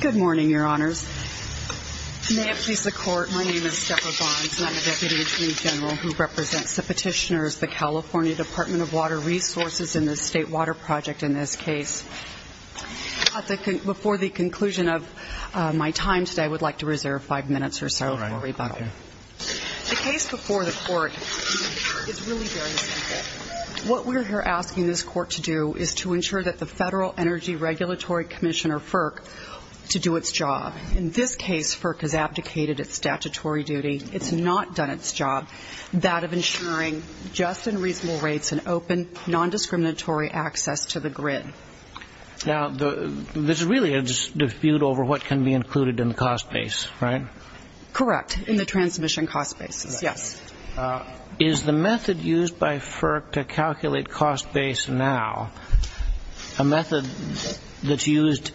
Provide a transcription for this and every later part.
Good morning, Your Honors. May it please the Court, my name is Deborah Bonds, and I'm a Deputy Attorney General who represents the petitioners, the California Department of Water Resources in the State Water Project in this case. Before the conclusion of my time today, I would like to reserve five minutes or so for rebuttal. The case before the Court is really very simple. What we're here asking this Court to do is to ensure that the Federal Energy Regulatory Commission, or FERC, to do its job. In this case, FERC has abdicated its statutory duty, it's not done its job, that of ensuring just and reasonable rates and open, non-discriminatory access to the grid. Now, there's really a dispute over what can be included in the cost base, right? Correct, in the transmission cost bases, yes. Is the method used by FERC to calculate cost base now a method that's used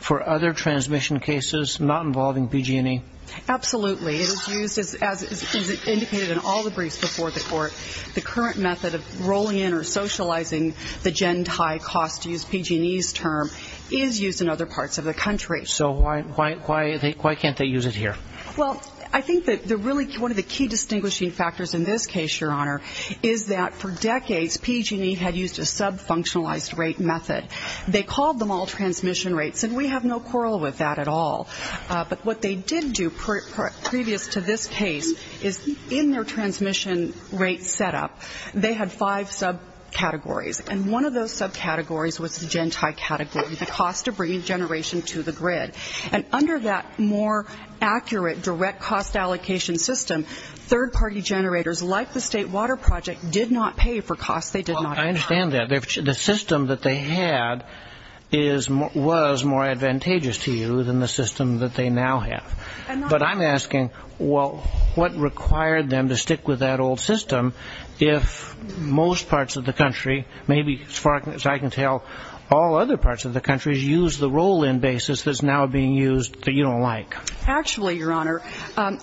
for other transmission cases not involving PG&E? Absolutely. It is used, as indicated in all the briefs before the Court, the current method of rolling in or socializing the gen-tie cost, to use PG&E's term, is used in other parts of the country. So why can't they use it here? Well, I think that one of the key distinguishing factors in this case, Your Honor, is that for decades, PG&E had used a sub-functionalized rate method. They called them all transmission rates. They didn't follow with that at all. But what they did do, previous to this case, is in their transmission rate setup, they had five sub-categories. And one of those sub-categories was the gen-tie category, the cost of bringing generation to the grid. And under that more accurate direct cost allocation system, third-party generators, like the State Water Project, did not pay for costs they did not account for. I understand that. The system that they had was more advantageous to you than the system that they now have. But I'm asking, well, what required them to stick with that old system if most parts of the country, maybe as far as I can tell all other parts of the country, used the roll-in basis that's now being used that you don't like? Actually, Your Honor,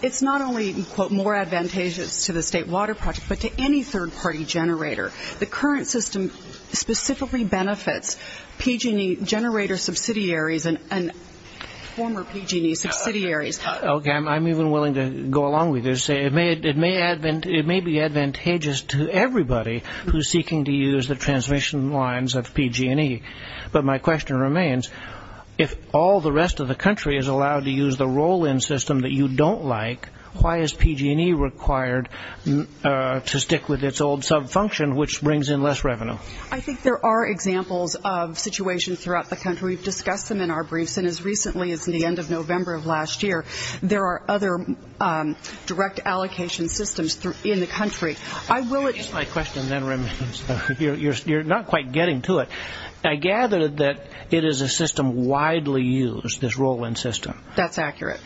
it's not only, quote, more advantageous to the State Water Project, but to any third-party generator. The current system specifically benefits PG&E generator subsidiaries and former PG&E subsidiaries. Okay. I'm even willing to go along with this. It may be advantageous to everybody who's seeking to use the transmission lines of PG&E. But my question remains, if all the rest of the country is allowed to use the roll-in system that you don't like, why is PG&E required to stick with its old sub-function, which brings in less revenue? I think there are examples of situations throughout the country. We've discussed them in our briefs. And as recently as the end of November of last year, there are other direct allocation systems in the country. I will... My question then remains, you're not quite getting to it. I gather that it is a system widely used, this roll-in system. That's accurate.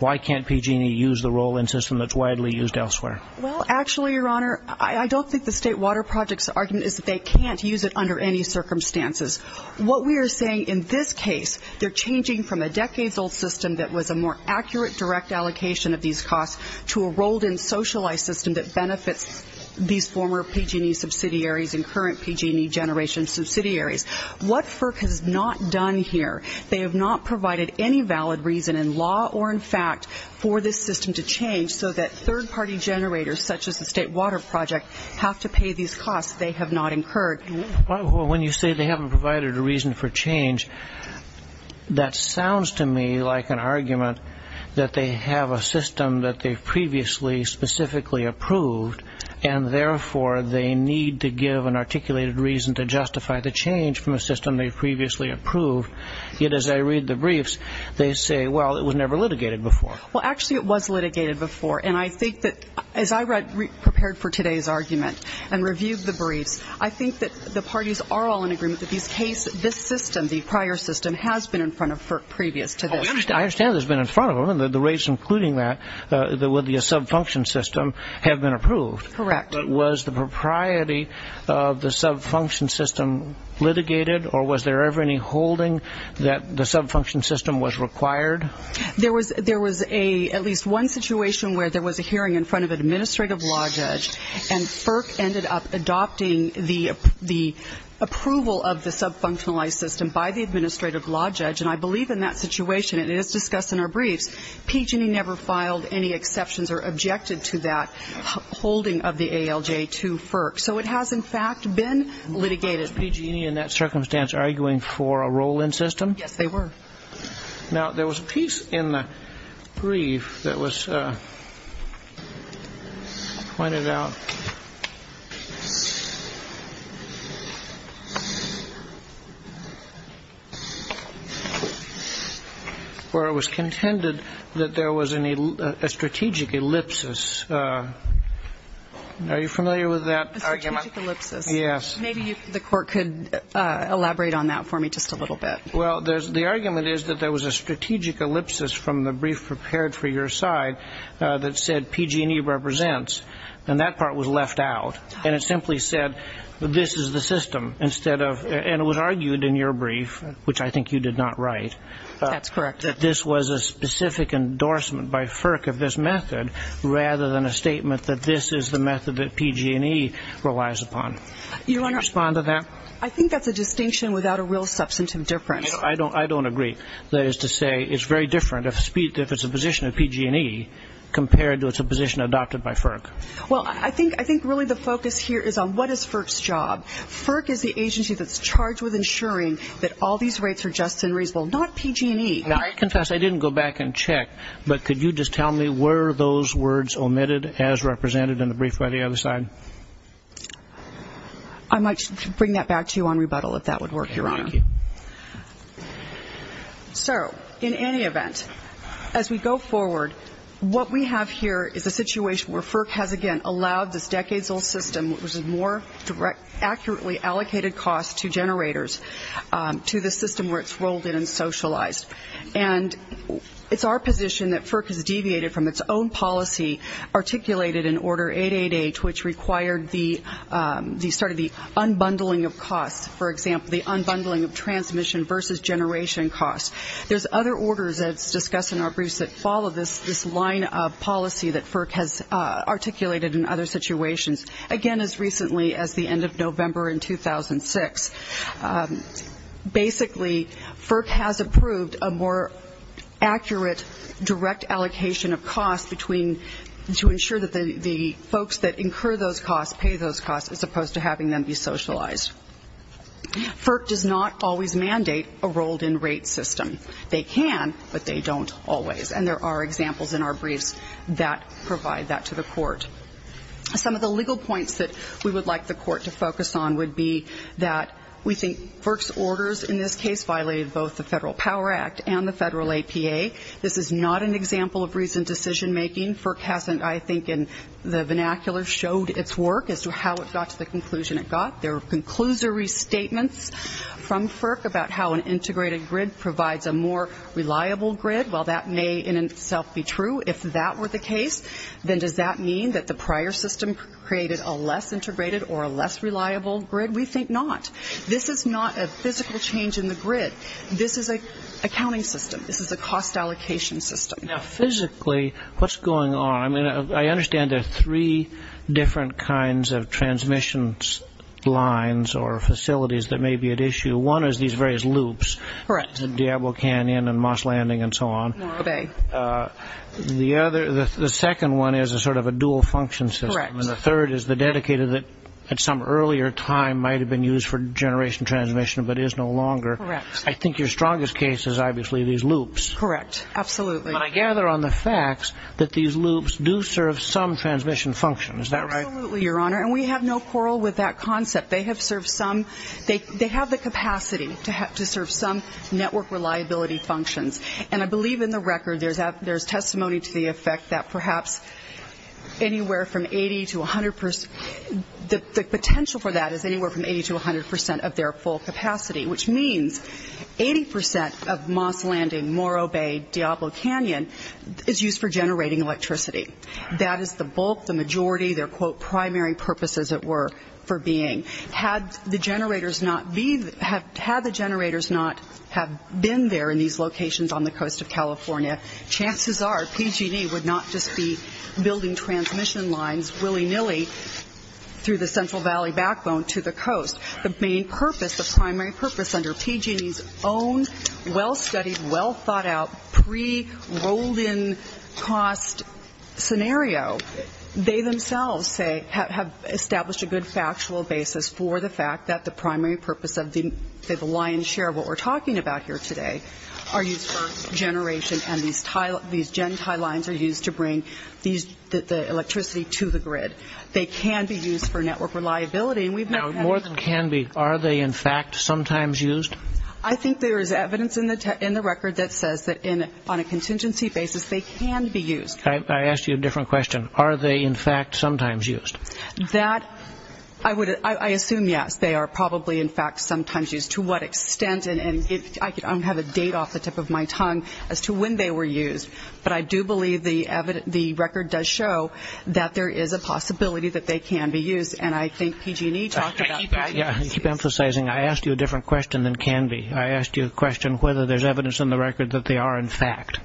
Why can't PG&E use the roll-in system that's widely used elsewhere? Well, actually, Your Honor, I don't think the State Water Project's argument is that they can't use it under any circumstances. What we are saying in this case, they're changing from a decades-old system that was a more accurate direct allocation of these costs to a rolled-in, socialized system that benefits these former PG&E subsidiaries and current PG&E generation subsidiaries. What FERC has not done here, they have not provided any valid reason in law or in fact for this system to change so that third-party generators, such as the State Water Project, have to pay these costs they have not incurred. Well, when you say they haven't provided a reason for change, that sounds to me like an argument that they have a system that they've previously specifically approved, and therefore they need to give an articulated reason to justify the change from a system they've previously approved. Yet, as I read the briefs, they say, well, it was never litigated before. Well, actually, it was litigated before. And I think that, as I prepared for today's argument and reviewed the briefs, I think that the parties are all in agreement that this system, the prior system, has been in front of FERC previous to this. I understand it's been in front of them, and the rates including that, with the sub-function system, have been approved. Correct. But was the propriety of the sub-function system litigated, or was there ever any holding that the sub-function system was required? There was at least one situation where there was a hearing in front of an administrative law judge, and FERC ended up adopting the approval of the sub-functionalized system by the administrative law judge. And I believe in that situation, and it is discussed in our briefs, PG&E never filed any exceptions or objected to that holding of the ALJ to FERC. So it has, in fact, been litigated. Was PG&E in that circumstance arguing for a roll-in system? Yes, they were. Now, there was a piece in the brief that was pointed out where it was contended that there was a strategic ellipsis. Are you familiar with that argument? A strategic ellipsis. Yes. Maybe the Court could elaborate on that for me just a little bit. Well, the argument is that there was a strategic ellipsis from the brief prepared for your side that said PG&E represents, and that part was left out. And it simply said this is the system instead of – and it was argued in your brief, which I think you did not write. That's correct. That this was a specific endorsement by FERC of this method rather than a statement that this is the method that PG&E relies upon. Your Honor. Could you respond to that? I think that's a distinction without a real substantive difference. I don't agree. That is to say it's very different if it's a position of PG&E compared to it's a position adopted by FERC. Well, I think really the focus here is on what is FERC's job. FERC is the agency that's charged with ensuring that all these rates are just and reasonable, not PG&E. Now, I confess I didn't go back and check, but could you just tell me were those words omitted as represented in the brief by the other side? I might bring that back to you on rebuttal if that would work, Your Honor. Okay, thank you. So, in any event, as we go forward, what we have here is a situation where FERC has again allowed this decades-old system, which is a more accurately allocated cost to generators, to the system where it's rolled in and socialized. And it's our position that FERC has deviated from its own policy, articulated in Order 888, which required sort of the unbundling of costs. For example, the unbundling of transmission versus generation costs. There's other orders that's discussed in our briefs that follow this line of policy that FERC has articulated in other situations. Again, as recently as the end of November in 2006. Basically, FERC has approved a more accurate direct allocation of costs between to ensure that the folks that incur those costs pay those costs as opposed to having them be socialized. FERC does not always mandate a rolled-in rate system. They can, but they don't always. And there are examples in our briefs that provide that to the court. Some of the legal points that we would like the court to focus on would be that we think FERC's orders in this case violated both the Federal Power Act and the Federal APA. This is not an example of recent decision-making. FERC hasn't, I think, in the vernacular, showed its work as to how it got to the conclusion it got. There were conclusory statements from FERC about how an integrated grid provides a more reliable grid. While that may in itself be true, if that were the case, then does that mean that the prior system created a less integrated or a less reliable grid? We think not. This is not a physical change in the grid. This is an accounting system. This is a cost allocation system. Now, physically, what's going on? I mean, I understand there are three different kinds of transmission lines or facilities that may be at issue. One is these various loops. Correct. Diablo Canyon and Moss Landing and so on. Okay. The second one is a sort of a dual function system. Correct. And the third is the dedicated that at some earlier time might have been used for generation transmission but is no longer. Correct. I think your strongest case is obviously these loops. Correct. Absolutely. But I gather on the facts that these loops do serve some transmission function. Is that right? Absolutely, Your Honor. And we have no quarrel with that concept. They have the capacity to serve some network reliability functions. And I believe in the record there's testimony to the effect that perhaps anywhere from 80 to 100 percent, the potential for that is anywhere from 80 to 100 percent of their full capacity, which means 80 percent of Moss Landing, Morro Bay, Diablo Canyon is used for generating electricity. That is the bulk, the majority, their, quote, primary purpose, as it were, for being. Had the generators not been there in these locations on the coast of California, chances are PG&E would not just be building transmission lines willy-nilly through the Central Valley backbone to the coast. The main purpose, the primary purpose under PG&E's own well-studied, well-thought-out, pre-rolled-in cost scenario, they themselves say have established a good factual basis for the fact that the primary purpose of the lion's share, what we're talking about here today, are used for generation, and these Gentile lines are used to bring the electricity to the grid. They can be used for network reliability. Now, more than can be, are they in fact sometimes used? I think there is evidence in the record that says that on a contingency basis they can be used. I asked you a different question. Are they in fact sometimes used? That, I would, I assume yes. They are probably in fact sometimes used. To what extent, and I don't have a date off the tip of my tongue as to when they were used, but I do believe the record does show that there is a possibility that they can be used, and I think PG&E talked about that. I keep emphasizing I asked you a different question than can be. I asked you a question whether there's evidence in the record that they are in fact.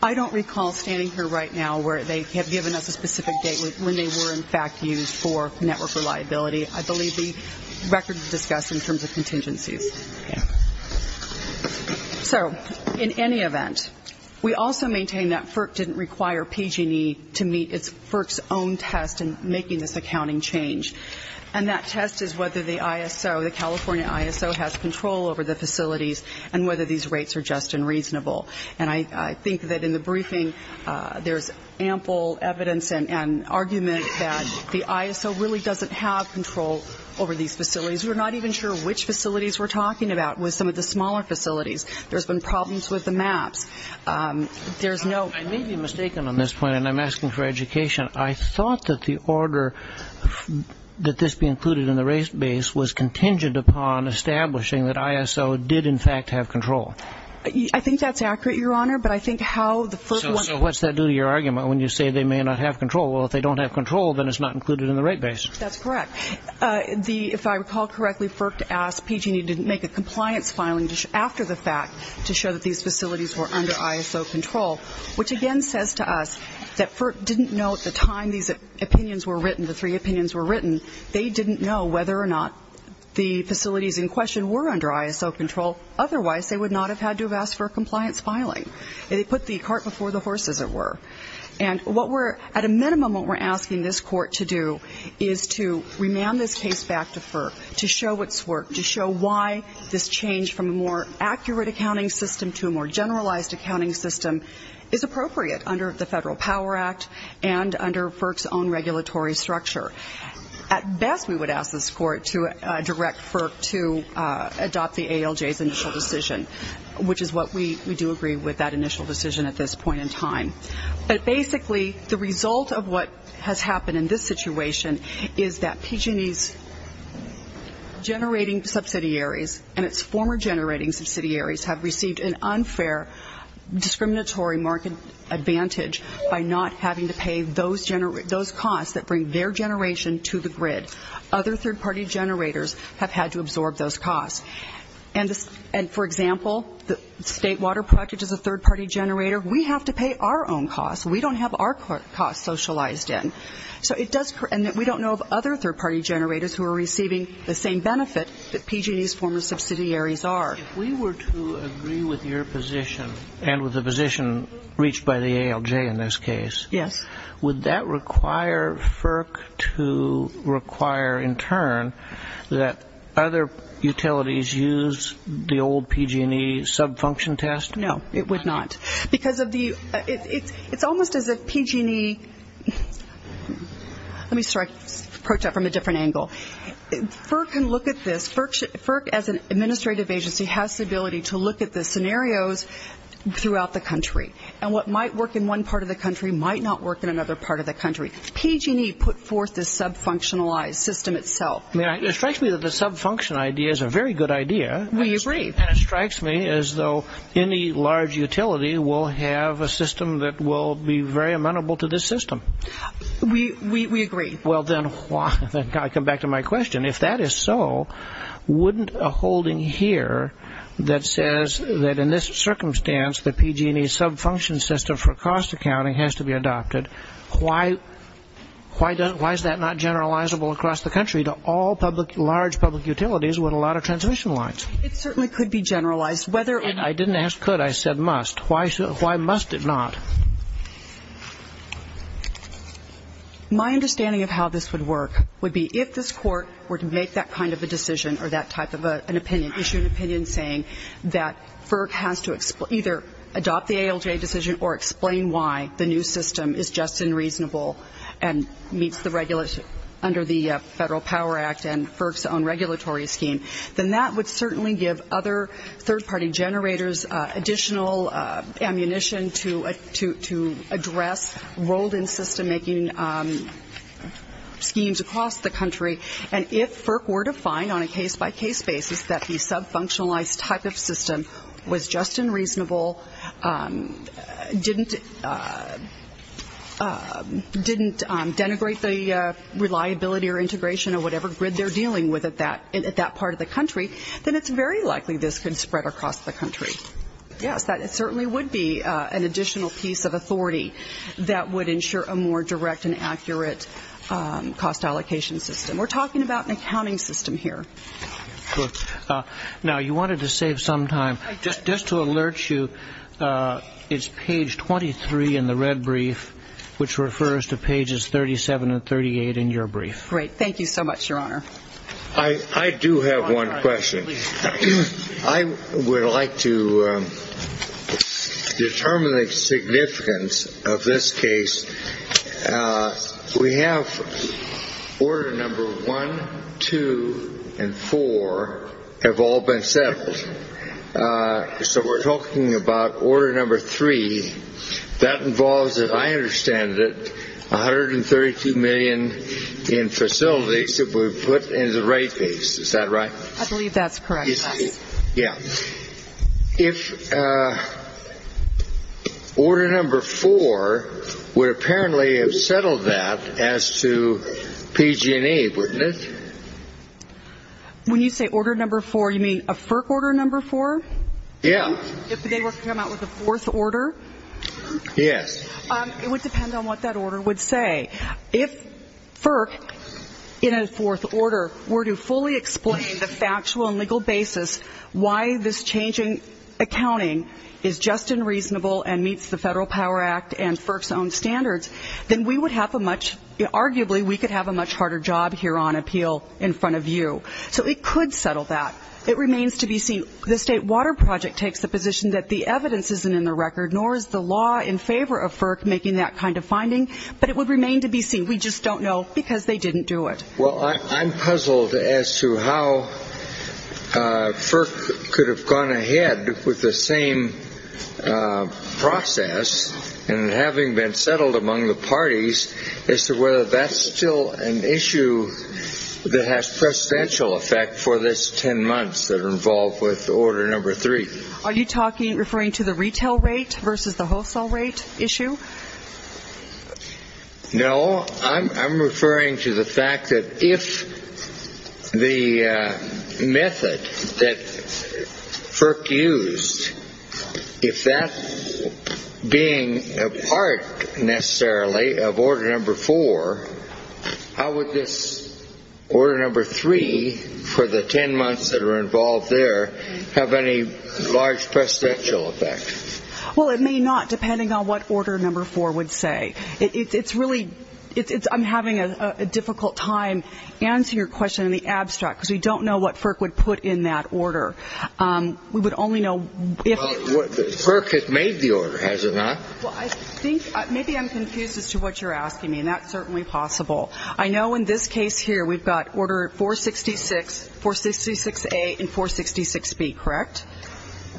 I don't recall standing here right now where they have given us a specific date when they were in fact used for network reliability. I believe the record discussed in terms of contingencies. So in any event, we also maintain that FERC didn't require PG&E to meet its, FERC's own test in making this accounting change, and that test is whether the ISO, the California ISO, has control over the facilities and whether these rates are just and reasonable. And I think that in the briefing there's ample evidence and argument that the ISO really doesn't have control over these facilities. We're not even sure which facilities we're talking about with some of the smaller facilities. There's been problems with the maps. There's no ---- I may be mistaken on this point, and I'm asking for education. I thought that the order that this be included in the rate base was contingent upon establishing that ISO did in fact have control. I think that's accurate, Your Honor, but I think how the first one ---- So what's that do to your argument when you say they may not have control? Well, if they don't have control, then it's not included in the rate base. That's correct. If I recall correctly, FERC asked PG&E to make a compliance filing after the fact to show that these facilities were under ISO control, which again says to us that FERC didn't know at the time these opinions were written, the three opinions were written, they didn't know whether or not the facilities in question were under ISO control. Otherwise, they would not have had to have asked for a compliance filing. They put the cart before the horse, as it were. And what we're ---- At a minimum, what we're asking this Court to do is to remand this case back to FERC to show its work, to show why this change from a more accurate accounting system to a more generalized accounting system is appropriate under the Federal Power Act and under FERC's own regulatory structure. At best, we would ask this Court to direct FERC to adopt the ALJ's initial decision, which is what we do agree with that initial decision at this point in time. But basically, the result of what has happened in this situation is that PG&E's generating subsidiaries and its former generating subsidiaries have received an unfair discriminatory market advantage by not having to pay those costs that bring their generation to the grid. Other third-party generators have had to absorb those costs. And, for example, the State Water Project is a third-party generator. We have to pay our own costs. We don't have our costs socialized in. And we don't know of other third-party generators who are receiving the same benefit that PG&E's former subsidiaries are. If we were to agree with your position and with the position reached by the ALJ in this case, would that require FERC to require, in turn, that other utilities use the old PG&E sub-function test? No, it would not. It's almost as if PG&E – let me approach that from a different angle. FERC can look at this. FERC, as an administrative agency, has the ability to look at the scenarios throughout the country. And what might work in one part of the country might not work in another part of the country. PG&E put forth this sub-functionalized system itself. It strikes me that the sub-function idea is a very good idea. We agree. And it strikes me as though any large utility will have a system that will be very amenable to this system. We agree. Well, then I come back to my question. If that is so, wouldn't a holding here that says that in this circumstance, the PG&E sub-function system for cost accounting has to be adopted, why is that not generalizable across the country to all large public utilities with a lot of transmission lines? It certainly could be generalized. And I didn't ask could. I said must. Why must it not? My understanding of how this would work would be if this Court were to make that kind of a decision or that type of an opinion, issue an opinion saying that FERC has to either adopt the ALJ decision or explain why the new system is just and reasonable and meets the regulation under the Federal Power Act and FERC's own regulatory scheme, then that would certainly give other third-party generators additional ammunition to address rolled-in system-making schemes across the country. And if FERC were to find on a case-by-case basis that the sub-functionalized type of system was just and reasonable, didn't denigrate the reliability or integration of whatever grid they're dealing with at that part of the country, then it's very likely this could spread across the country. Yes, that certainly would be an additional piece of authority that would ensure a more direct and accurate cost allocation system. We're talking about an accounting system here. Now, you wanted to save some time. Just to alert you, it's page 23 in the red brief, which refers to pages 37 and 38 in your brief. Great. Thank you so much, Your Honor. I do have one question. I would like to determine the significance of this case. We have order number one, two, and four have all been settled. So we're talking about order number three. That involves, if I understand it, 132 million in facilities that were put in the right place. Is that right? I believe that's correct, yes. Yeah. If order number four would apparently have settled that as to PG&E, wouldn't it? When you say order number four, you mean a FERC order number four? Yeah. If they were to come out with a fourth order? Yes. It would depend on what that order would say. If FERC, in a fourth order, were to fully explain the factual and legal basis why this change in accounting is just and reasonable and meets the Federal Power Act and FERC's own standards, then we would have a much, arguably we could have a much harder job here on appeal in front of you. So it could settle that. It remains to be seen. The State Water Project takes the position that the evidence isn't in the record, nor is the law in favor of FERC making that kind of finding. But it would remain to be seen. We just don't know because they didn't do it. Well, I'm puzzled as to how FERC could have gone ahead with the same process and having been settled among the parties as to whether that's still an issue that has presidential effect for this 10 months that are involved with order number three. Are you referring to the retail rate versus the wholesale rate issue? No. I'm referring to the fact that if the method that FERC used, if that being a part necessarily of order number four, how would this order number three for the 10 months that are involved there have any large presidential effect? Well, it may not, depending on what order number four would say. It's really ‑‑ I'm having a difficult time answering your question in the abstract because we don't know what FERC would put in that order. We would only know if ‑‑ FERC has made the order, has it not? Well, I think maybe I'm confused as to what you're asking me, and that's certainly possible. I know in this case here we've got order 466, 466A and 466B, correct?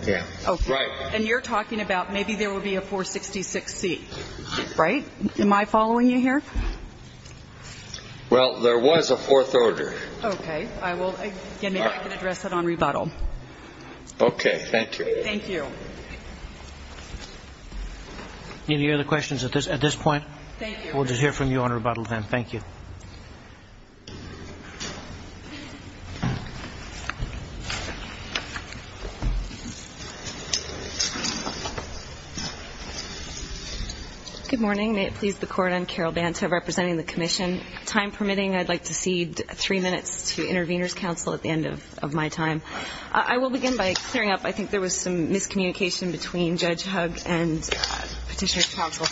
Yeah. Okay. Right. And you're talking about maybe there would be a 466C, right? Am I following you here? Well, there was a fourth order. Okay. I will ‑‑ again, maybe I can address that on rebuttal. Okay. Thank you. Thank you. Any other questions at this point? Thank you. We'll just hear from you on rebuttal then. Thank you. Good morning. May it please the Court, I'm Carol Banto representing the commission. Time permitting, I'd like to cede three minutes to interveners' counsel at the end of my time. I will begin by clearing up. I think there was some miscommunication between Judge Hugg and petitioner's counsel.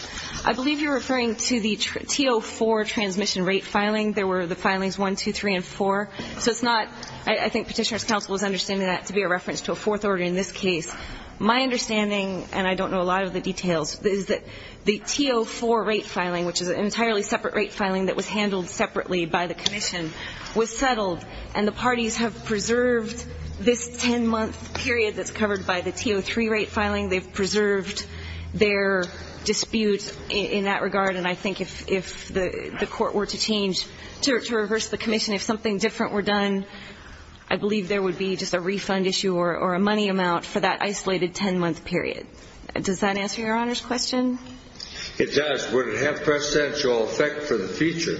I believe you're referring to the T04 transmission rate filing. There were the filings 1, 2, 3, and 4. So it's not ‑‑ I think petitioner's counsel is understanding that to be a reference to a fourth order in this case. My understanding, and I don't know a lot of the details, is that the T04 rate filing, which is an entirely separate rate filing that was handled separately by the commission, was settled, and the parties have preserved this 10‑month period that's covered by the T03 rate filing. They've preserved their dispute in that regard, and I think if the court were to change, to reverse the commission, if something different were done, I believe there would be just a refund issue or a money amount for that isolated 10‑month period. Does that answer Your Honor's question? It does. Would it have a percentual effect for the future?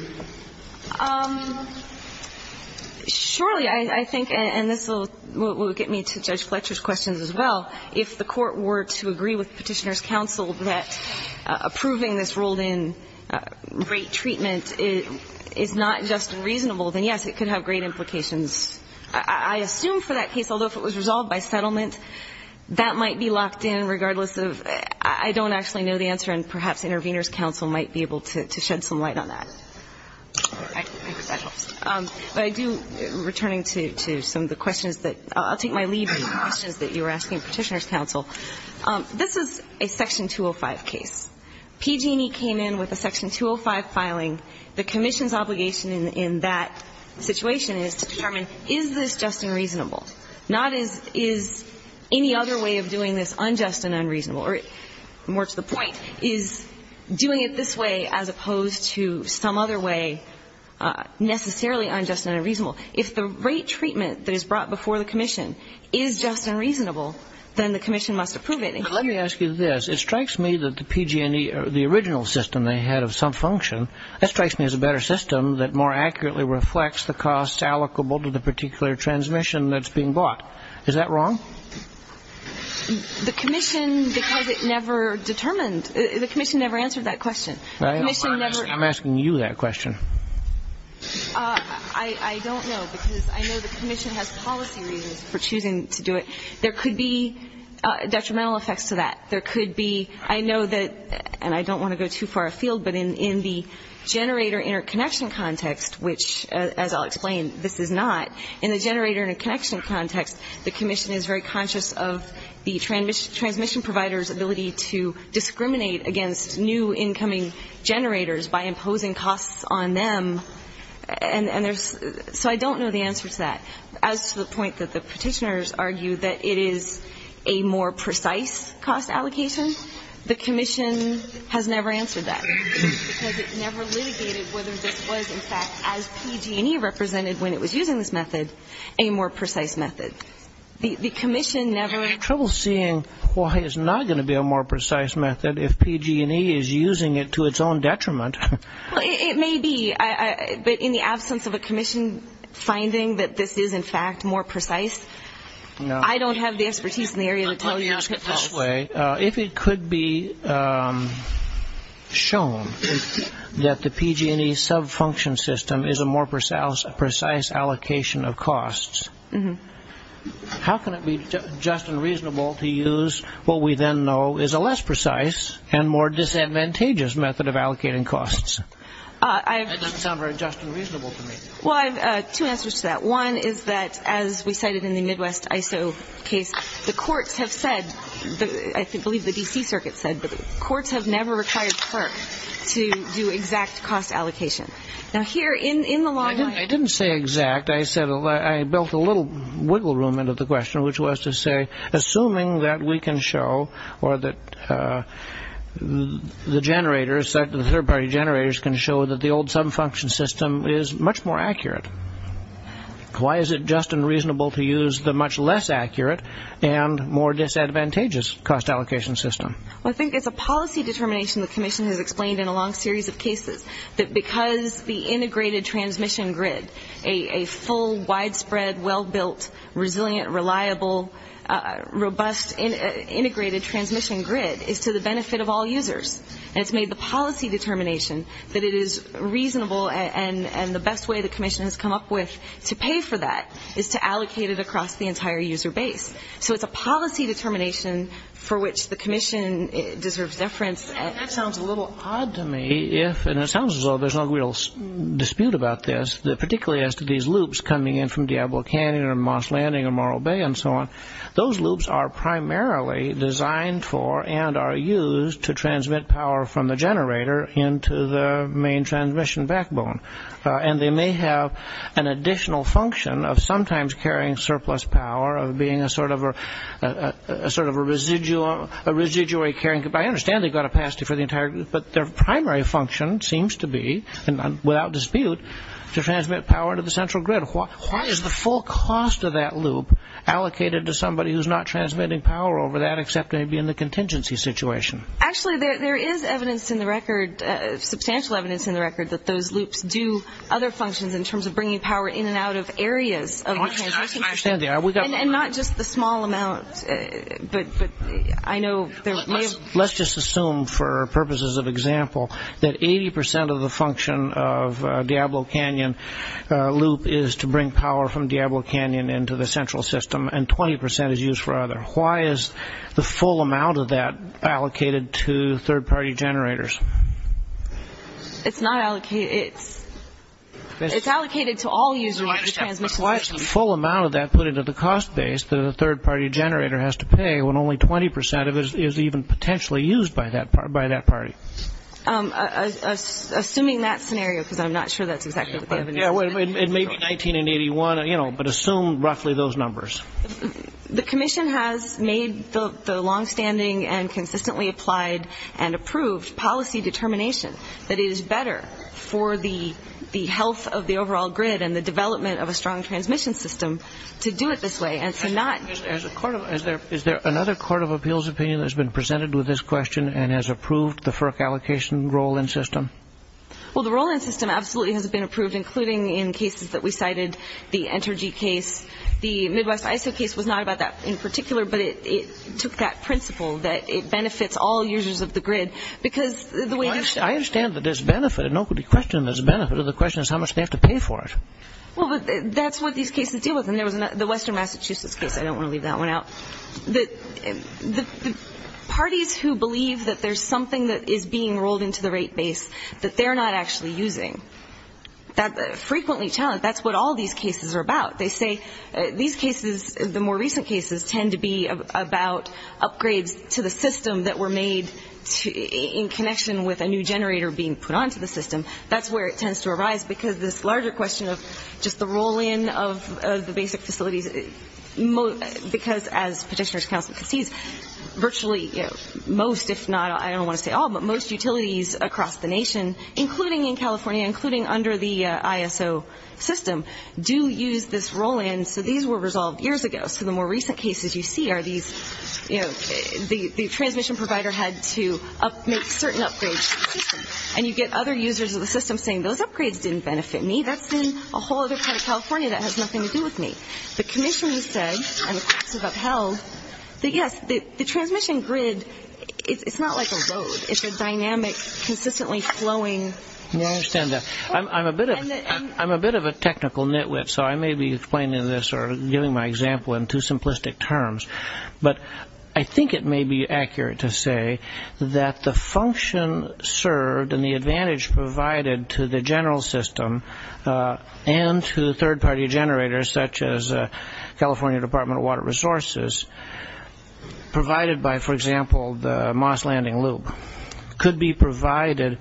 Surely, I think, and this will get me to Judge Fletcher's questions as well, if the court were to agree with petitioner's counsel that approving this rolled‑in rate treatment is not just unreasonable, then, yes, it could have great implications. I assume for that case, although if it was resolved by settlement, that might be locked in regardless of ‑‑ I don't actually know the answer, and perhaps intervener's counsel can answer that. I hope so. Returning to some of the questions that ‑‑ I'll take my lead on the questions that you were asking petitioner's counsel. This is a Section 205 case. PG&E came in with a Section 205 filing. The commission's obligation in that situation is to determine is this just and reasonable, not is any other way of doing this unjust and unreasonable, or more to the point, is doing it this way as opposed to some other way necessarily unjust and unreasonable. If the rate treatment that is brought before the commission is just and reasonable, then the commission must approve it. Let me ask you this. It strikes me that the PG&E, the original system they had of some function, that strikes me as a better system that more accurately reflects the costs allocable to the particular transmission that's being bought. Is that wrong? The commission, because it never determined, the commission never answered that question. The commission never ‑‑ I'm asking you that question. I don't know, because I know the commission has policy reasons for choosing to do it. There could be detrimental effects to that. There could be ‑‑ I know that, and I don't want to go too far afield, but in the generator interconnection context, which, as I'll explain, this is not, in the generator interconnection context, the commission is very conscious of the transmission provider's ability to discriminate against new incoming generators by imposing costs on them, and there's ‑‑ so I don't know the answer to that. As to the point that the petitioners argue that it is a more precise cost allocation, the commission has never answered that, because it never litigated whether this was, in fact, as PG&E represented when it was using this method, a more precise method. The commission never ‑‑ I have trouble seeing why it's not going to be a more precise method if PG&E is using it to its own detriment. Well, it may be, but in the absence of a commission finding that this is, in fact, more precise, I don't have the expertise in the area to tell you. If it could be shown that the PG&E subfunction system is a more precise allocation of costs, how can it be just and reasonable to use what we then know is a less precise and more disadvantageous method of allocating costs? That doesn't sound very just and reasonable to me. Well, I have two answers to that. One is that, as we cited in the Midwest ISO case, the courts have said, I believe the D.C. Circuit said, but the courts have never required PERC to do exact cost allocation. Now, here in the law ‑‑ I didn't say exact. I built a little wiggle room into the question, which was to say, assuming that we can show or that the generators, generators can show that the old subfunction system is much more accurate, why is it just and reasonable to use the much less accurate and more disadvantageous cost allocation system? Well, I think it's a policy determination the commission has explained in a long series of cases that because the integrated transmission grid, a full, widespread, well‑built, resilient, reliable, robust integrated transmission grid is to the benefit of all users and it's made the policy determination that it is reasonable and the best way the commission has come up with to pay for that is to allocate it across the entire user base. So it's a policy determination for which the commission deserves deference. That sounds a little odd to me. And it sounds as though there's no real dispute about this, particularly as to these loops coming in from Diablo Canyon or Moss Landing or Morro Bay and so on. Those loops are primarily designed for and are used to transmit power from the generator into the main transmission backbone. And they may have an additional function of sometimes carrying surplus power, of being a sort of a residual, a residuary carrying capacity. I understand they've got a capacity for the entire, but their primary function seems to be, without dispute, to transmit power to the central grid. And why is the full cost of that loop allocated to somebody who's not transmitting power over that except maybe in the contingency situation? Actually, there is evidence in the record, substantial evidence in the record that those loops do other functions in terms of bringing power in and out of areas of the transmission. I understand that. And not just the small amount. Let's just assume for purposes of example that 80% of the function of Diablo Canyon loop is to bring power from Diablo Canyon into the central system and 20% is used for other. Why is the full amount of that allocated to third-party generators? It's not allocated. It's allocated to all user-handed transmissions. Why is the full amount of that put into the cost base that a third-party generator has to pay when only 20% of it is even potentially used by that party? Assuming that scenario, because I'm not sure that's exactly what they have in mind. It may be 19 and 81, but assume roughly those numbers. The commission has made the longstanding and consistently applied and approved policy determination that it is better for the health of the overall grid and the development of a strong transmission system to do it this way and to not. Is there another court of appeals opinion that has been presented with this question and has approved the FERC allocation roll-in system? Well, the roll-in system absolutely has been approved, including in cases that we cited, the Entergy case. The Midwest ISO case was not about that in particular, but it took that principle that it benefits all users of the grid. I understand that there's benefit. There's no question there's benefit. The question is how much they have to pay for it. Well, that's what these cases deal with. The Western Massachusetts case, I don't want to leave that one out. The parties who believe that there's something that is being rolled into the rate base that they're not actually using, that frequently challenge, that's what all these cases are about. They say these cases, the more recent cases, tend to be about upgrades to the system that were made in connection with a new generator being put onto the system. That's where it tends to arise, because this larger question of just the roll-in of the basic facilities, because as petitioner's counsel concedes, virtually most, if not all, I don't want to say all, but most utilities across the nation, including in California, including under the ISO system, do use this roll-in. So these were resolved years ago. So the more recent cases you see are these, the transmission provider had to make certain upgrades to the system. And you get other users of the system saying, those upgrades didn't benefit me, that's in a whole other part of California that has nothing to do with me. The commissioners said, and the courts have upheld, that yes, the transmission grid, it's not like a load, it's a dynamic, consistently flowing. I understand that. I'm a bit of a technical nitwit, so I may be explaining this or giving my example in too simplistic terms. But I think it may be accurate to say that the function served and the advantage provided to the general system and to the third-party generators, such as California Department of Water Resources, provided by, for example, the Moss Landing Loop, could be provided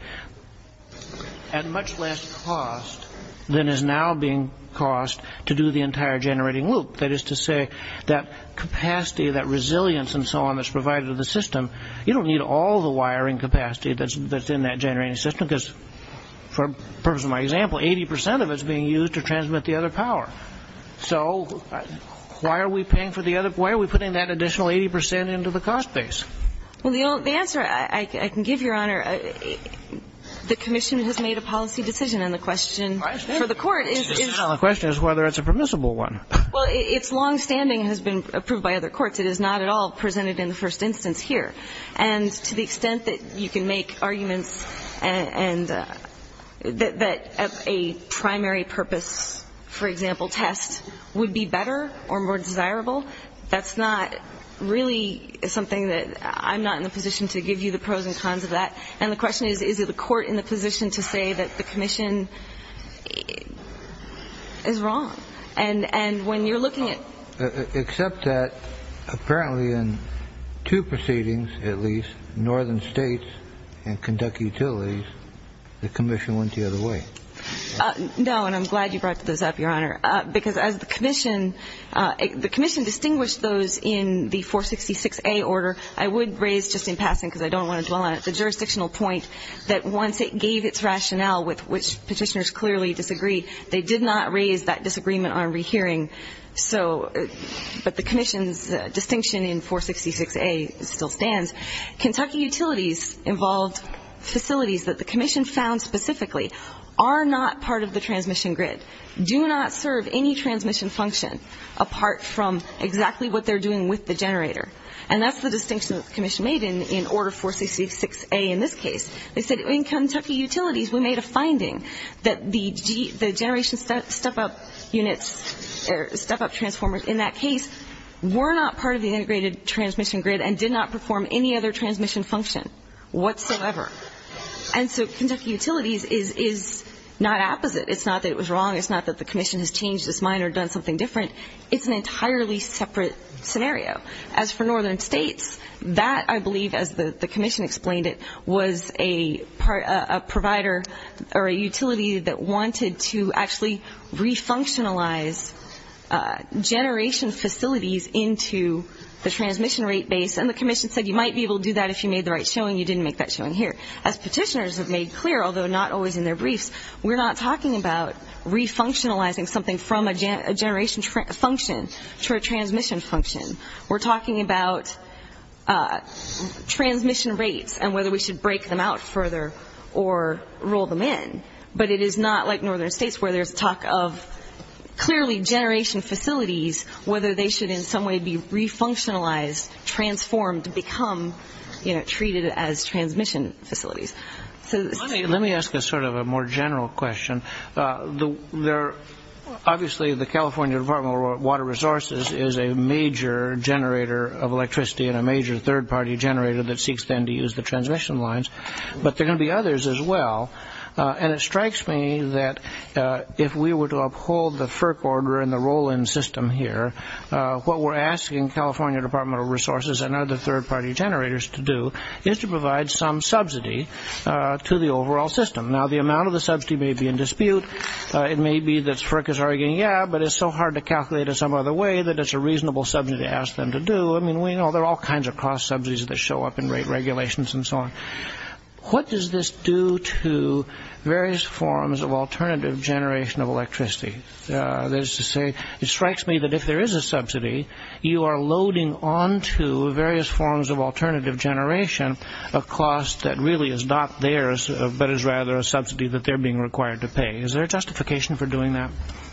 at much less cost than is now being cost to do the entire generating loop. That is to say, that capacity, that resilience, and so on, that's provided to the system, you don't need all the wiring capacity that's in that generating system because, for the purpose of my example, 80% of it is being used to transmit the other power. So why are we putting that additional 80% into the cost base? Well, the answer I can give, Your Honor, the commission has made a policy decision, and the question for the court is whether it's a permissible one. Well, its longstanding has been approved by other courts. It is not at all presented in the first instance here. And to the extent that you can make arguments that a primary purpose, for example, test, would be better or more desirable, that's not really something that I'm not in the position to give you the pros and cons of that. And the question is, is the court in the position to say that the commission is wrong? And when you're looking at... Except that apparently in two proceedings, at least, Northern States and Kentucky Utilities, the commission went the other way. No, and I'm glad you brought those up, Your Honor, because as the commission distinguished those in the 466A order, I would raise, just in passing because I don't want to dwell on it, the jurisdictional point that once it gave its rationale with which Petitioners clearly disagree, they did not raise that disagreement on rehearing. But the commission's distinction in 466A still stands. Kentucky Utilities involved facilities that the commission found specifically are not part of the transmission grid, do not serve any transmission function apart from exactly what they're doing with the generator. And that's the distinction that the commission made in Order 466A in this case. They said, in Kentucky Utilities, we made a finding that the generation step-up units or step-up transformers in that case were not part of the integrated transmission grid and did not perform any other transmission function whatsoever. And so Kentucky Utilities is not opposite. It's not that it was wrong. It's not that the commission has changed its mind or done something different. It's an entirely separate scenario. As for Northern States, that, I believe, as the commission explained it, was a provider or a utility that wanted to actually refunctionalize generation facilities into the transmission rate base, and the commission said you might be able to do that if you made the right showing. You didn't make that showing here. As petitioners have made clear, although not always in their briefs, we're not talking about refunctionalizing something from a generation function to a transmission function. We're talking about transmission rates and whether we should break them out further or roll them in. But it is not like Northern States, where there's talk of clearly generation facilities, whether they should in some way be refunctionalized, transformed, become treated as transmission facilities. Let me ask a sort of a more general question. is a major generator of electricity and a major third-party generator that seeks then to use the transmission lines, but there are going to be others as well. And it strikes me that if we were to uphold the FERC order and the roll-in system here, what we're asking California Department of Resources and other third-party generators to do is to provide some subsidy to the overall system. Now, the amount of the subsidy may be in dispute. It may be that FERC is arguing, yeah, but it's so hard to calculate in some other way that it's a reasonable subsidy to ask them to do. I mean, we know there are all kinds of cost subsidies that show up in rate regulations and so on. What does this do to various forms of alternative generation of electricity? That is to say, it strikes me that if there is a subsidy, you are loading onto various forms of alternative generation a cost that really is not theirs, but is rather a subsidy that they're being required to pay. Is there a justification for doing that?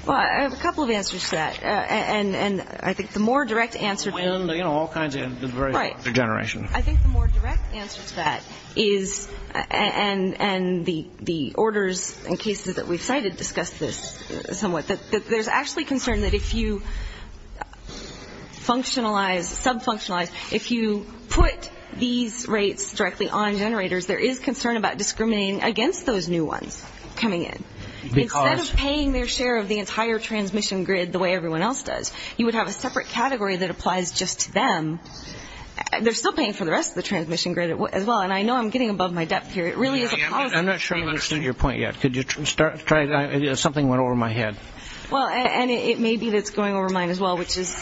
Well, I have a couple of answers to that. And I think the more direct answer... Wind, you know, all kinds of various forms of generation. I think the more direct answer to that is, and the orders and cases that we've cited discuss this somewhat, that there's actually concern that if you functionalize, sub-functionalize, if you put these rates directly on generators, there is concern about discriminating against those new ones coming in. Instead of paying their share of the entire transmission grid the way everyone else does, you would have a separate category that applies just to them. They're still paying for the rest of the transmission grid as well. And I know I'm getting above my depth here. It really is a policy issue. I'm not sure I understand your point yet. Could you start? Something went over my head. Well, and it may be that it's going over mine as well, which is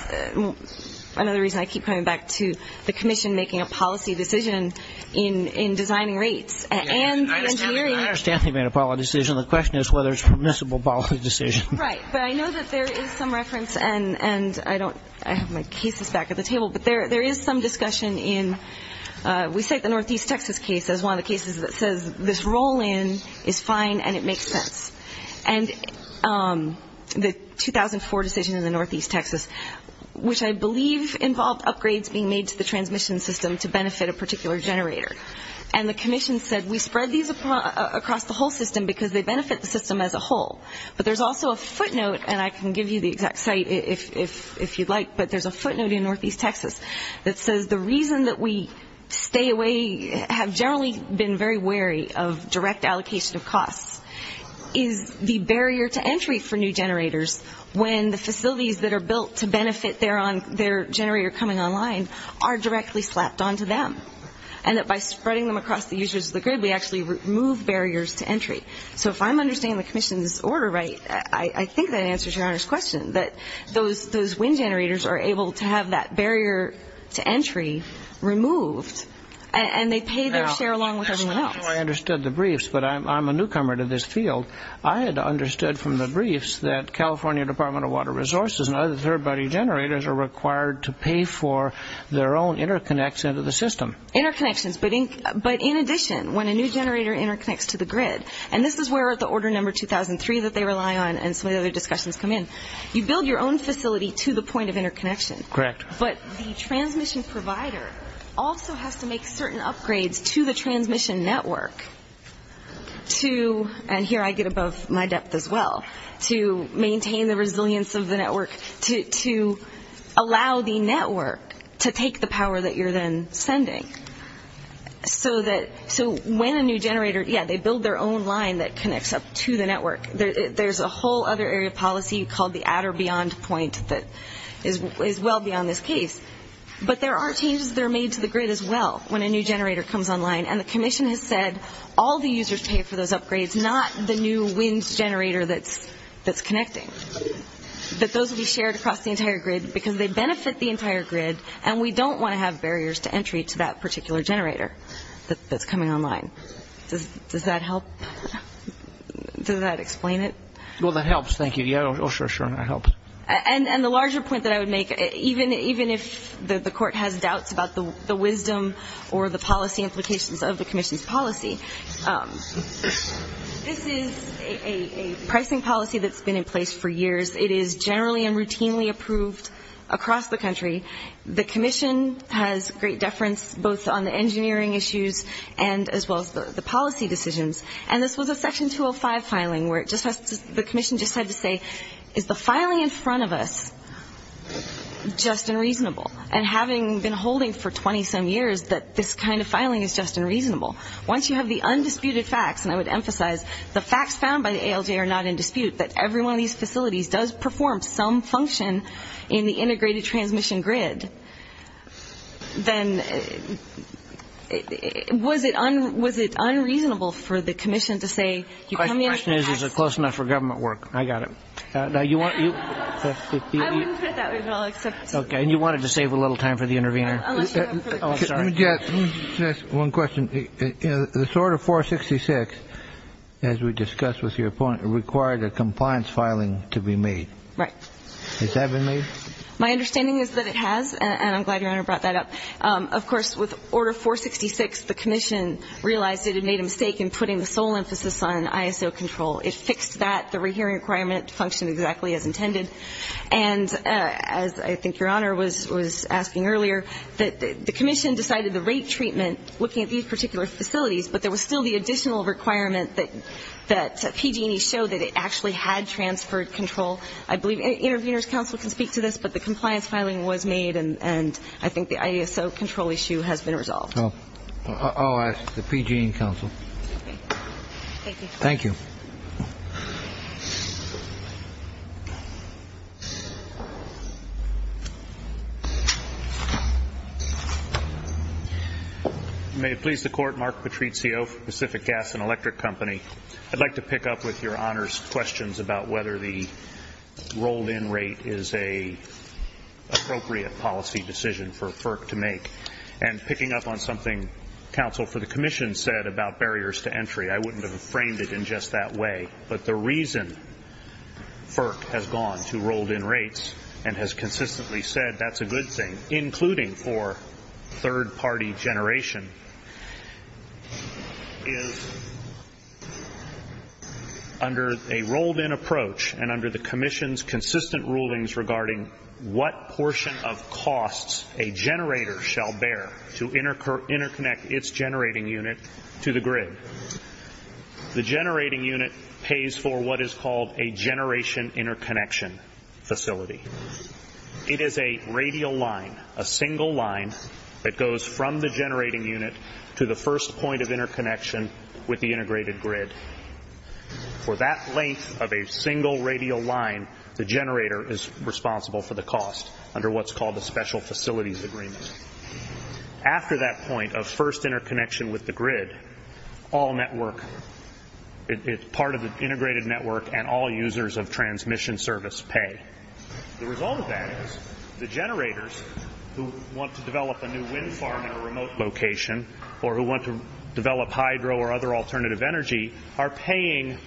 another reason I keep coming back to the commission making a policy decision in designing rates. I understand they made a policy decision. The question is whether it's a permissible policy decision. Right, but I know that there is some reference, and I have my cases back at the table, but there is some discussion in we cite the Northeast Texas case as one of the cases that says this roll-in is fine and it makes sense. And the 2004 decision in the Northeast Texas, which I believe involved upgrades being made to the transmission system to benefit a particular generator, and the commission said we spread these across the whole system because they benefit the system as a whole. But there's also a footnote, and I can give you the exact site if you'd like, but there's a footnote in Northeast Texas that says the reason that we stay away, have generally been very wary of direct allocation of costs, is the barrier to entry for new generators when the facilities that are built to benefit their generator coming online are directly slapped onto them. And that by spreading them across the users of the grid, we actually remove barriers to entry. So if I'm understanding the commission's order right, I think that answers Your Honor's question, that those wind generators are able to have that barrier to entry removed, and they pay their share along with everyone else. I understood the briefs, but I'm a newcomer to this field. I had understood from the briefs that California Department of Water Resources and other third-party generators are required to pay for their own interconnection to the system. Interconnections, but in addition, when a new generator interconnects to the grid, and this is where the order number 2003 that they rely on and some of the other discussions come in, you build your own facility to the point of interconnection. Correct. But the transmission provider also has to make certain upgrades to the transmission network to, and here I get above my depth as well, to maintain the resilience of the network, to allow the network to take the power that you're then sending. So when a new generator, yeah, they build their own line that connects up to the network. There's a whole other area of policy called the at or beyond point that is well beyond this case, but there are changes that are made to the grid as well when a new generator comes online, and the commission has said all the users pay for those upgrades, not the new wind generator that's connecting, but those will be shared across the entire grid because they benefit the entire grid, and we don't want to have barriers to entry to that particular generator that's coming online. Does that help? Does that explain it? Well, that helps, thank you. Yeah, oh, sure, sure, that helps. And the larger point that I would make, even if the court has doubts about the wisdom or the policy implications of the commission's policy, this is a pricing policy that's been in place for years. It is generally and routinely approved across the country. The commission has great deference both on the engineering issues and as well as the policy decisions, and this was a section 205 filing where the commission just had to say, is the filing in front of us just unreasonable? And having been holding for 20-some years that this kind of filing is just unreasonable, once you have the undisputed facts, and I would emphasize the facts found by the ALJ are not in dispute, that every one of these facilities does perform some function in the integrated transmission grid, then was it unreasonable for the commission to say you come in with the facts? The question is, is it close enough for government work? I got it. I wouldn't put it that way, but I'll accept it. Okay, and you wanted to save a little time for the intervener. Unless you have further questions. Let me just ask one question. This Order 466, as we discussed with your point, required a compliance filing to be made. Right. Has that been made? My understanding is that it has, and I'm glad Your Honor brought that up. Of course, with Order 466, the commission realized it had made a mistake in putting the sole emphasis on ISO control. It fixed that. The rehearing requirement functioned exactly as intended, and as I think Your Honor was asking earlier, the commission decided the rate treatment, looking at these particular facilities, but there was still the additional requirement that PG&E show that it actually had transferred control. I believe an intervener's counsel can speak to this, but the compliance filing was made, and I think the ISO control issue has been resolved. I'll ask the PG&E counsel. Thank you. Thank you. May it please the Court. Mark Patrizio, Pacific Gas and Electric Company. I'd like to pick up with Your Honor's questions about whether the rolled-in rate is an appropriate policy decision for FERC to make. And picking up on something counsel for the commission said about barriers to entry, I wouldn't have framed it in just that way, but the reason FERC has gone to rolled-in rates and has consistently said that's a good thing, including for third-party generation, is under a rolled-in approach and under the commission's consistent rulings regarding what portion of costs a generator shall bear to interconnect its generating unit to the grid. The generating unit pays for what is called a generation interconnection facility. It is a radial line, a single line that goes from the generating unit to the first point of interconnection with the integrated grid. For that length of a single radial line, the generator is responsible for the cost under what's called a special facilities agreement. After that point of first interconnection with the grid, all network, part of the integrated network and all users of transmission service pay. The result of that is the generators who want to develop a new wind farm in a remote location or who want to develop hydro or other alternative energy are paying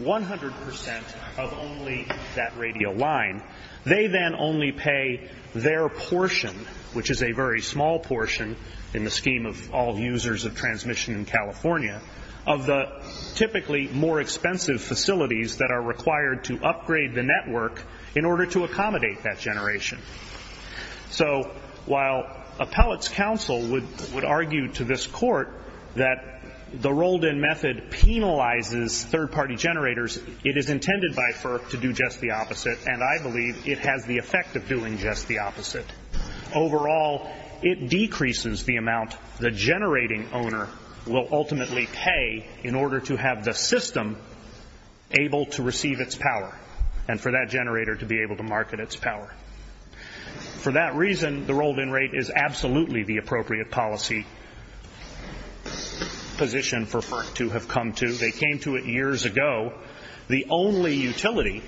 100% of only that radial line. They then only pay their portion, which is a very small portion in the scheme of all users of transmission in California, of the typically more expensive facilities that are required to upgrade the network in order to accommodate that generation. So while appellate's counsel would argue to this court that the rolled-in method penalizes third-party generators, it is intended by FERC to do just the opposite, and I believe it has the effect of doing just the opposite. Overall, it decreases the amount the generating owner will ultimately pay in order to have the system able to receive its power and for that generator to be able to market its power. For that reason, the rolled-in rate is absolutely the appropriate policy position for FERC to have come to. They came to it years ago. The only utility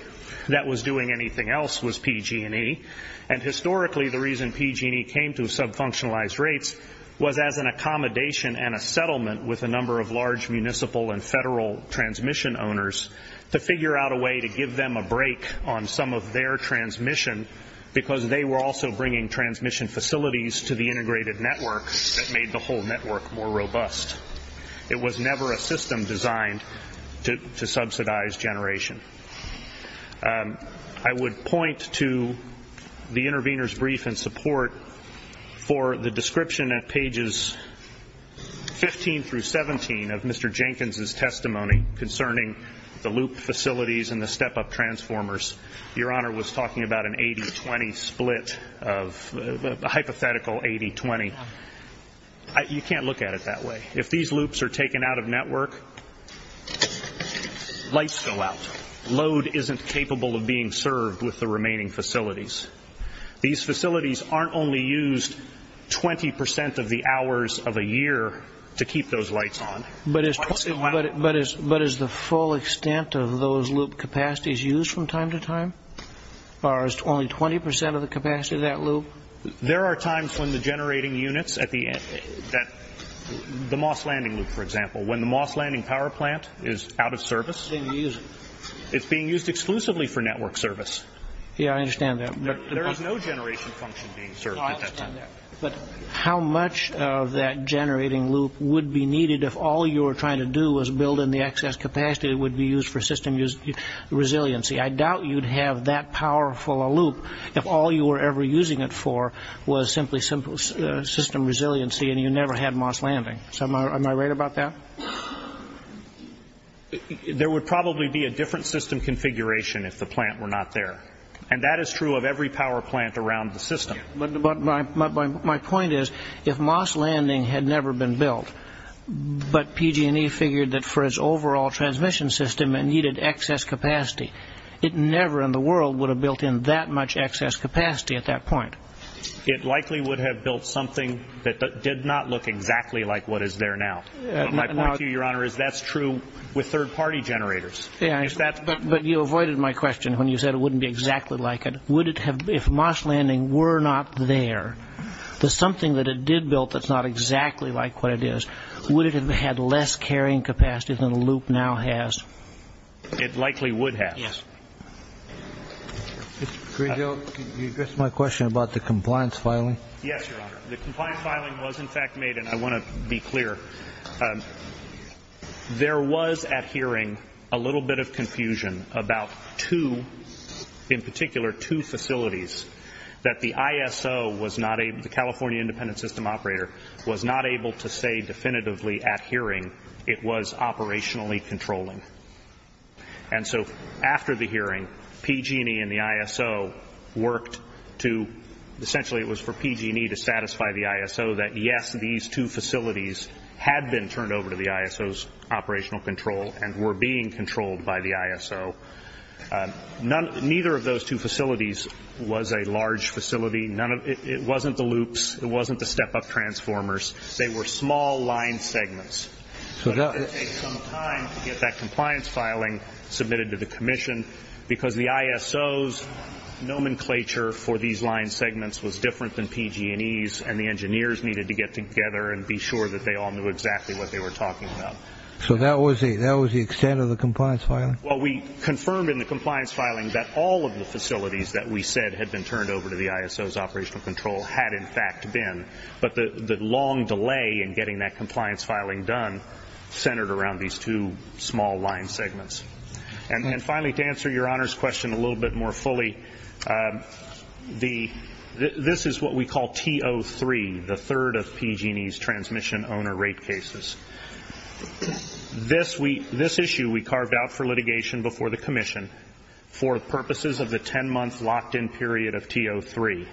that was doing anything else was PG&E, and historically the reason PG&E came to sub-functionalized rates was as an accommodation and a settlement with a number of large municipal and federal transmission owners to figure out a way to give them a break on some of their transmission because they were also bringing transmission facilities to the integrated network that made the whole network more robust. It was never a system designed to subsidize generation. I would point to the intervener's brief in support for the description at pages 15 through 17 of Mr. Jenkins' testimony concerning the loop facilities and the step-up transformers. Your Honor was talking about an 80-20 split, a hypothetical 80-20. You can't look at it that way. If these loops are taken out of network, lights go out. Load isn't capable of being served with the remaining facilities. These facilities aren't only used 20 percent of the hours of a year to keep those lights on. But is the full extent of those loop capacities used from time to time? Or is it only 20 percent of the capacity of that loop? There are times when the generating units at the end, the MOS landing loop, for example, when the MOS landing power plant is out of service, it's being used exclusively for network service. Yeah, I understand that. There is no generation function being served at that time. I understand that. But how much of that generating loop would be needed if all you were trying to do was build in the excess capacity that would be used for system resiliency? I doubt you'd have that powerful a loop if all you were ever using it for was simply system resiliency and you never had MOS landing. Am I right about that? There would probably be a different system configuration if the plant were not there. And that is true of every power plant around the system. But my point is, if MOS landing had never been built, but PG&E figured that for its overall transmission system it needed excess capacity, it never in the world would have built in that much excess capacity at that point. It likely would have built something that did not look exactly like what is there now. My point to you, Your Honor, is that's true with third-party generators. But you avoided my question when you said it wouldn't be exactly like it. If MOS landing were not there, the something that it did build that's not exactly like what it is, would it have had less carrying capacity than the loop now has? It likely would have. Mr. Greenfield, can you address my question about the compliance filing? Yes, Your Honor. The compliance filing was, in fact, made, and I want to be clear, there was at hearing a little bit of confusion about two, in particular two facilities, that the ISO was not able, the California Independent System Operator, was not able to say definitively at hearing it was operationally controlling. And so after the hearing, PG&E and the ISO worked to, essentially it was for PG&E to satisfy the ISO that, yes, these two facilities had been turned over to the ISO's operational control and were being controlled by the ISO. Neither of those two facilities was a large facility. It wasn't the loops. It wasn't the step-up transformers. They were small line segments. So it did take some time to get that compliance filing submitted to the commission because the ISO's nomenclature for these line segments was different than PG&E's and the engineers needed to get together and be sure that they all knew exactly what they were talking about. So that was the extent of the compliance filing? Well, we confirmed in the compliance filing that all of the facilities that we said had been turned over to the ISO's operational control had, in fact, been. But the long delay in getting that compliance filing done centered around these two small line segments. And finally, to answer Your Honor's question a little bit more fully, this is what we call T03, the third of PG&E's transmission owner rate cases. This issue we carved out for litigation before the commission for purposes of the 10-month locked-in period of T03.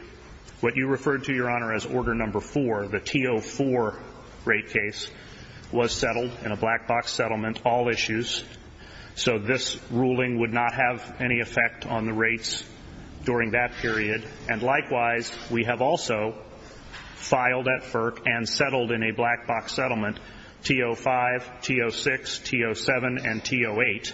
What you referred to, Your Honor, as Order No. 4, the T04 rate case, was settled in a black-box settlement, all issues. So this ruling would not have any effect on the rates during that period. And likewise, we have also filed at FERC and settled in a black-box settlement T05, T06, T07, and T08.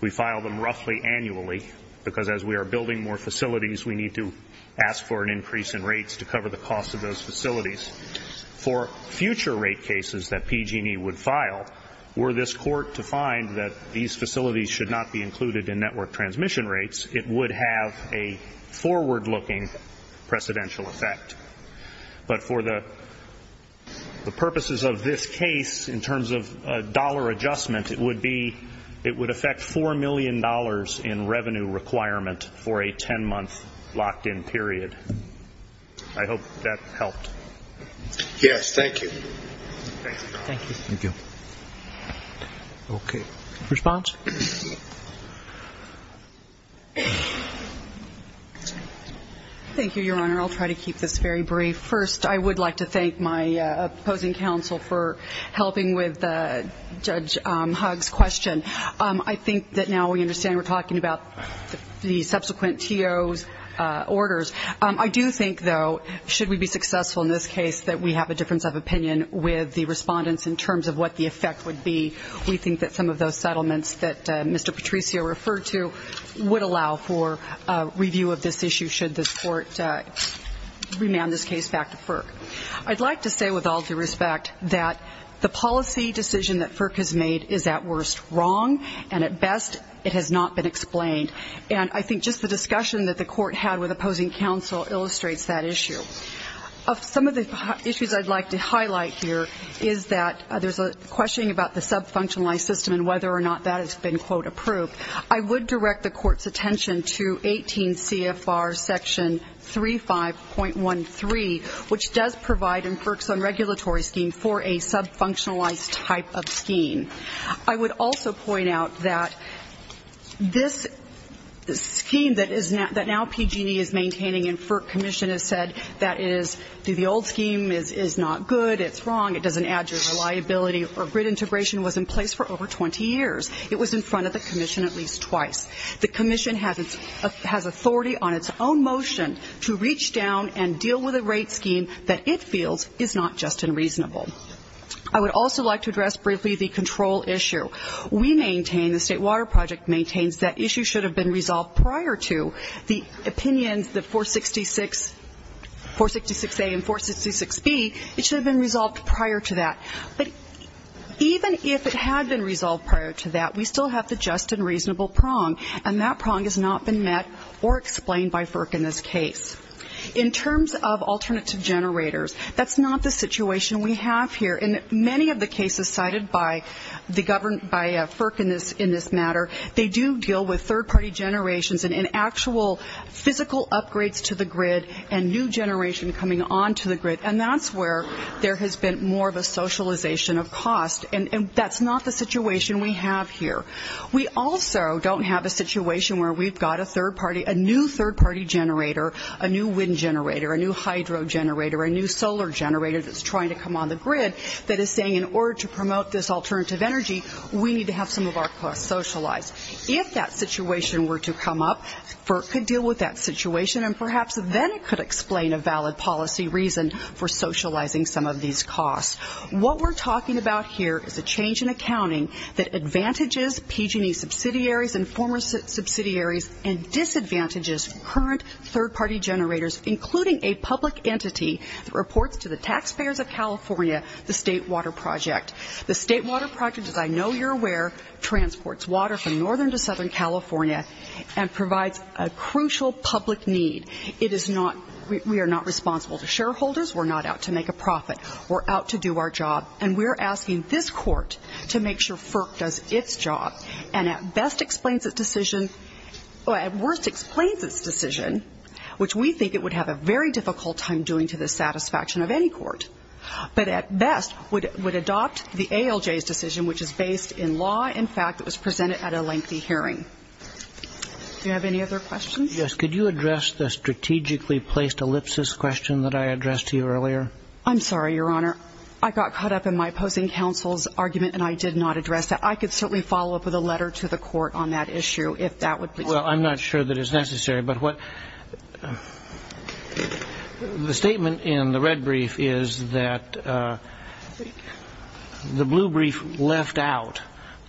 We file them roughly annually because as we are building more facilities, we need to ask for an increase in rates to cover the cost of those facilities. For future rate cases that PG&E would file, were this court to find that these facilities should not be included in network transmission rates, it would have a forward-looking precedential effect. But for the purposes of this case, in terms of dollar adjustment, it would affect $4 million in revenue requirement for a 10-month locked-in period. I hope that helped. Yes, thank you. Thank you. Thank you. Okay. Response? Thank you, Your Honor. I'll try to keep this very brief. First, I would like to thank my opposing counsel for helping with Judge Hugg's question. I think that now we understand we're talking about the subsequent TO's orders. I do think, though, should we be successful in this case, that we have a difference of opinion with the respondents in terms of what the effect would be. We think that some of those settlements that Mr. Patricio referred to would allow for review of this issue, should this court remand this case back to FERC. I'd like to say, with all due respect, that the policy decision that FERC has made is, at worst, wrong, and, at best, it has not been explained. And I think just the discussion that the court had with opposing counsel illustrates that issue. Some of the issues I'd like to highlight here is that there's a question about the sub-functionalized system and whether or not that has been, quote, approved. I would direct the court's attention to 18 CFR section 35.13, which does provide in FERC's unregulatory scheme for a sub-functionalized type of scheme. I would also point out that this scheme that now PG&E is maintaining in FERC commission has said that it is, the old scheme is not good, it's wrong, it doesn't add to reliability, or grid integration was in place for over 20 years. It was in front of the commission at least twice. The commission has authority on its own motion to reach down and deal with a rate scheme that it feels is not just unreasonable. I would also like to address briefly the control issue. We maintain, the State Water Project maintains, that issue should have been resolved prior to the opinions, the 466A and 466B, it should have been resolved prior to that. But even if it had been resolved prior to that, we still have the just and reasonable prong, and that prong has not been met or explained by FERC in this case. In terms of alternative generators, that's not the situation we have here. In many of the cases cited by FERC in this matter, they do deal with third-party generations and in actual physical upgrades to the grid and new generation coming onto the grid, and that's where there has been more of a socialization of cost, and that's not the situation we have here. We also don't have a situation where we've got a third-party, a new third-party generator, a new wind generator, a new hydro generator, a new solar generator that's trying to come on the grid that is saying in order to promote this alternative energy, we need to have some of our costs socialized. If that situation were to come up, FERC could deal with that situation, and perhaps then it could explain a valid policy reason for socializing some of these costs. What we're talking about here is a change in accounting that advantages PG&E subsidiaries and former subsidiaries and disadvantages current third-party generators, including a public entity that reports to the taxpayers of California, the State Water Project. The State Water Project, as I know you're aware, transports water from northern to southern California and provides a crucial public need. It is not we are not responsible to shareholders. We're not out to make a profit. We're out to do our job, and we're asking this court to make sure FERC does its job and at best explains its decision or at worst explains its decision, which we think it would have a very difficult time doing to the satisfaction of any court, but at best would adopt the ALJ's decision, which is based in law and fact. It was presented at a lengthy hearing. Do you have any other questions? Yes. Could you address the strategically placed ellipsis question that I addressed to you earlier? I'm sorry, Your Honor. I got caught up in my opposing counsel's argument, and I did not address that. I could certainly follow up with a letter to the court on that issue if that would be helpful. Well, I'm not sure that is necessary. But the statement in the red brief is that the blue brief left out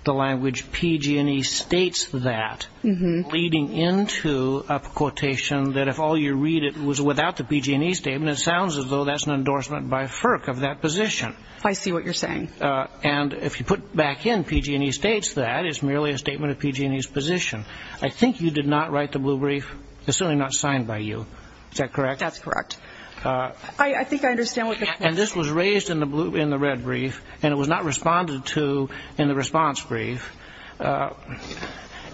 the language PG&E states that, leading into a quotation that if all you read was without the PG&E statement, it sounds as though that's an endorsement by FERC of that position. I see what you're saying. And if you put back in PG&E states that, it's merely a statement of PG&E's position. I think you did not write the blue brief. It's certainly not signed by you. Is that correct? That's correct. I think I understand what the question is. And this was raised in the red brief, and it was not responded to in the response brief.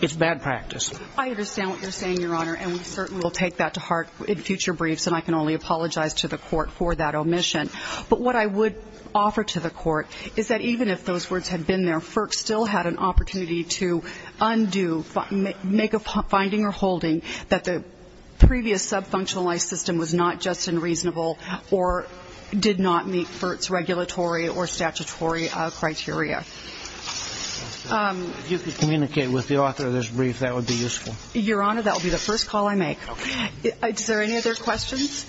It's bad practice. I understand what you're saying, Your Honor, and we certainly will take that to heart in future briefs, and I can only apologize to the court for that omission. But what I would offer to the court is that even if those words had been there, I would ask the court to undo, make a finding or holding that the previous subfunctionalized system was not just unreasonable or did not meet FERC's regulatory or statutory criteria. If you could communicate with the author of this brief, that would be useful. Your Honor, that would be the first call I make. Okay. Is there any other questions?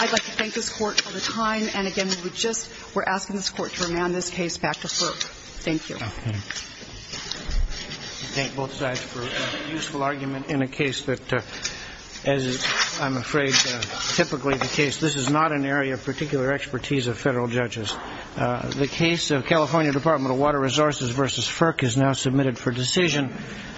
I'd like to thank this Court for the time. And, again, we just were asking this Court to remand this case back to FERC. Thank you. Thank both sides for a useful argument in a case that, as I'm afraid typically the case, this is not an area of particular expertise of federal judges. The case of California Department of Water Resources v. FERC is now submitted for decision.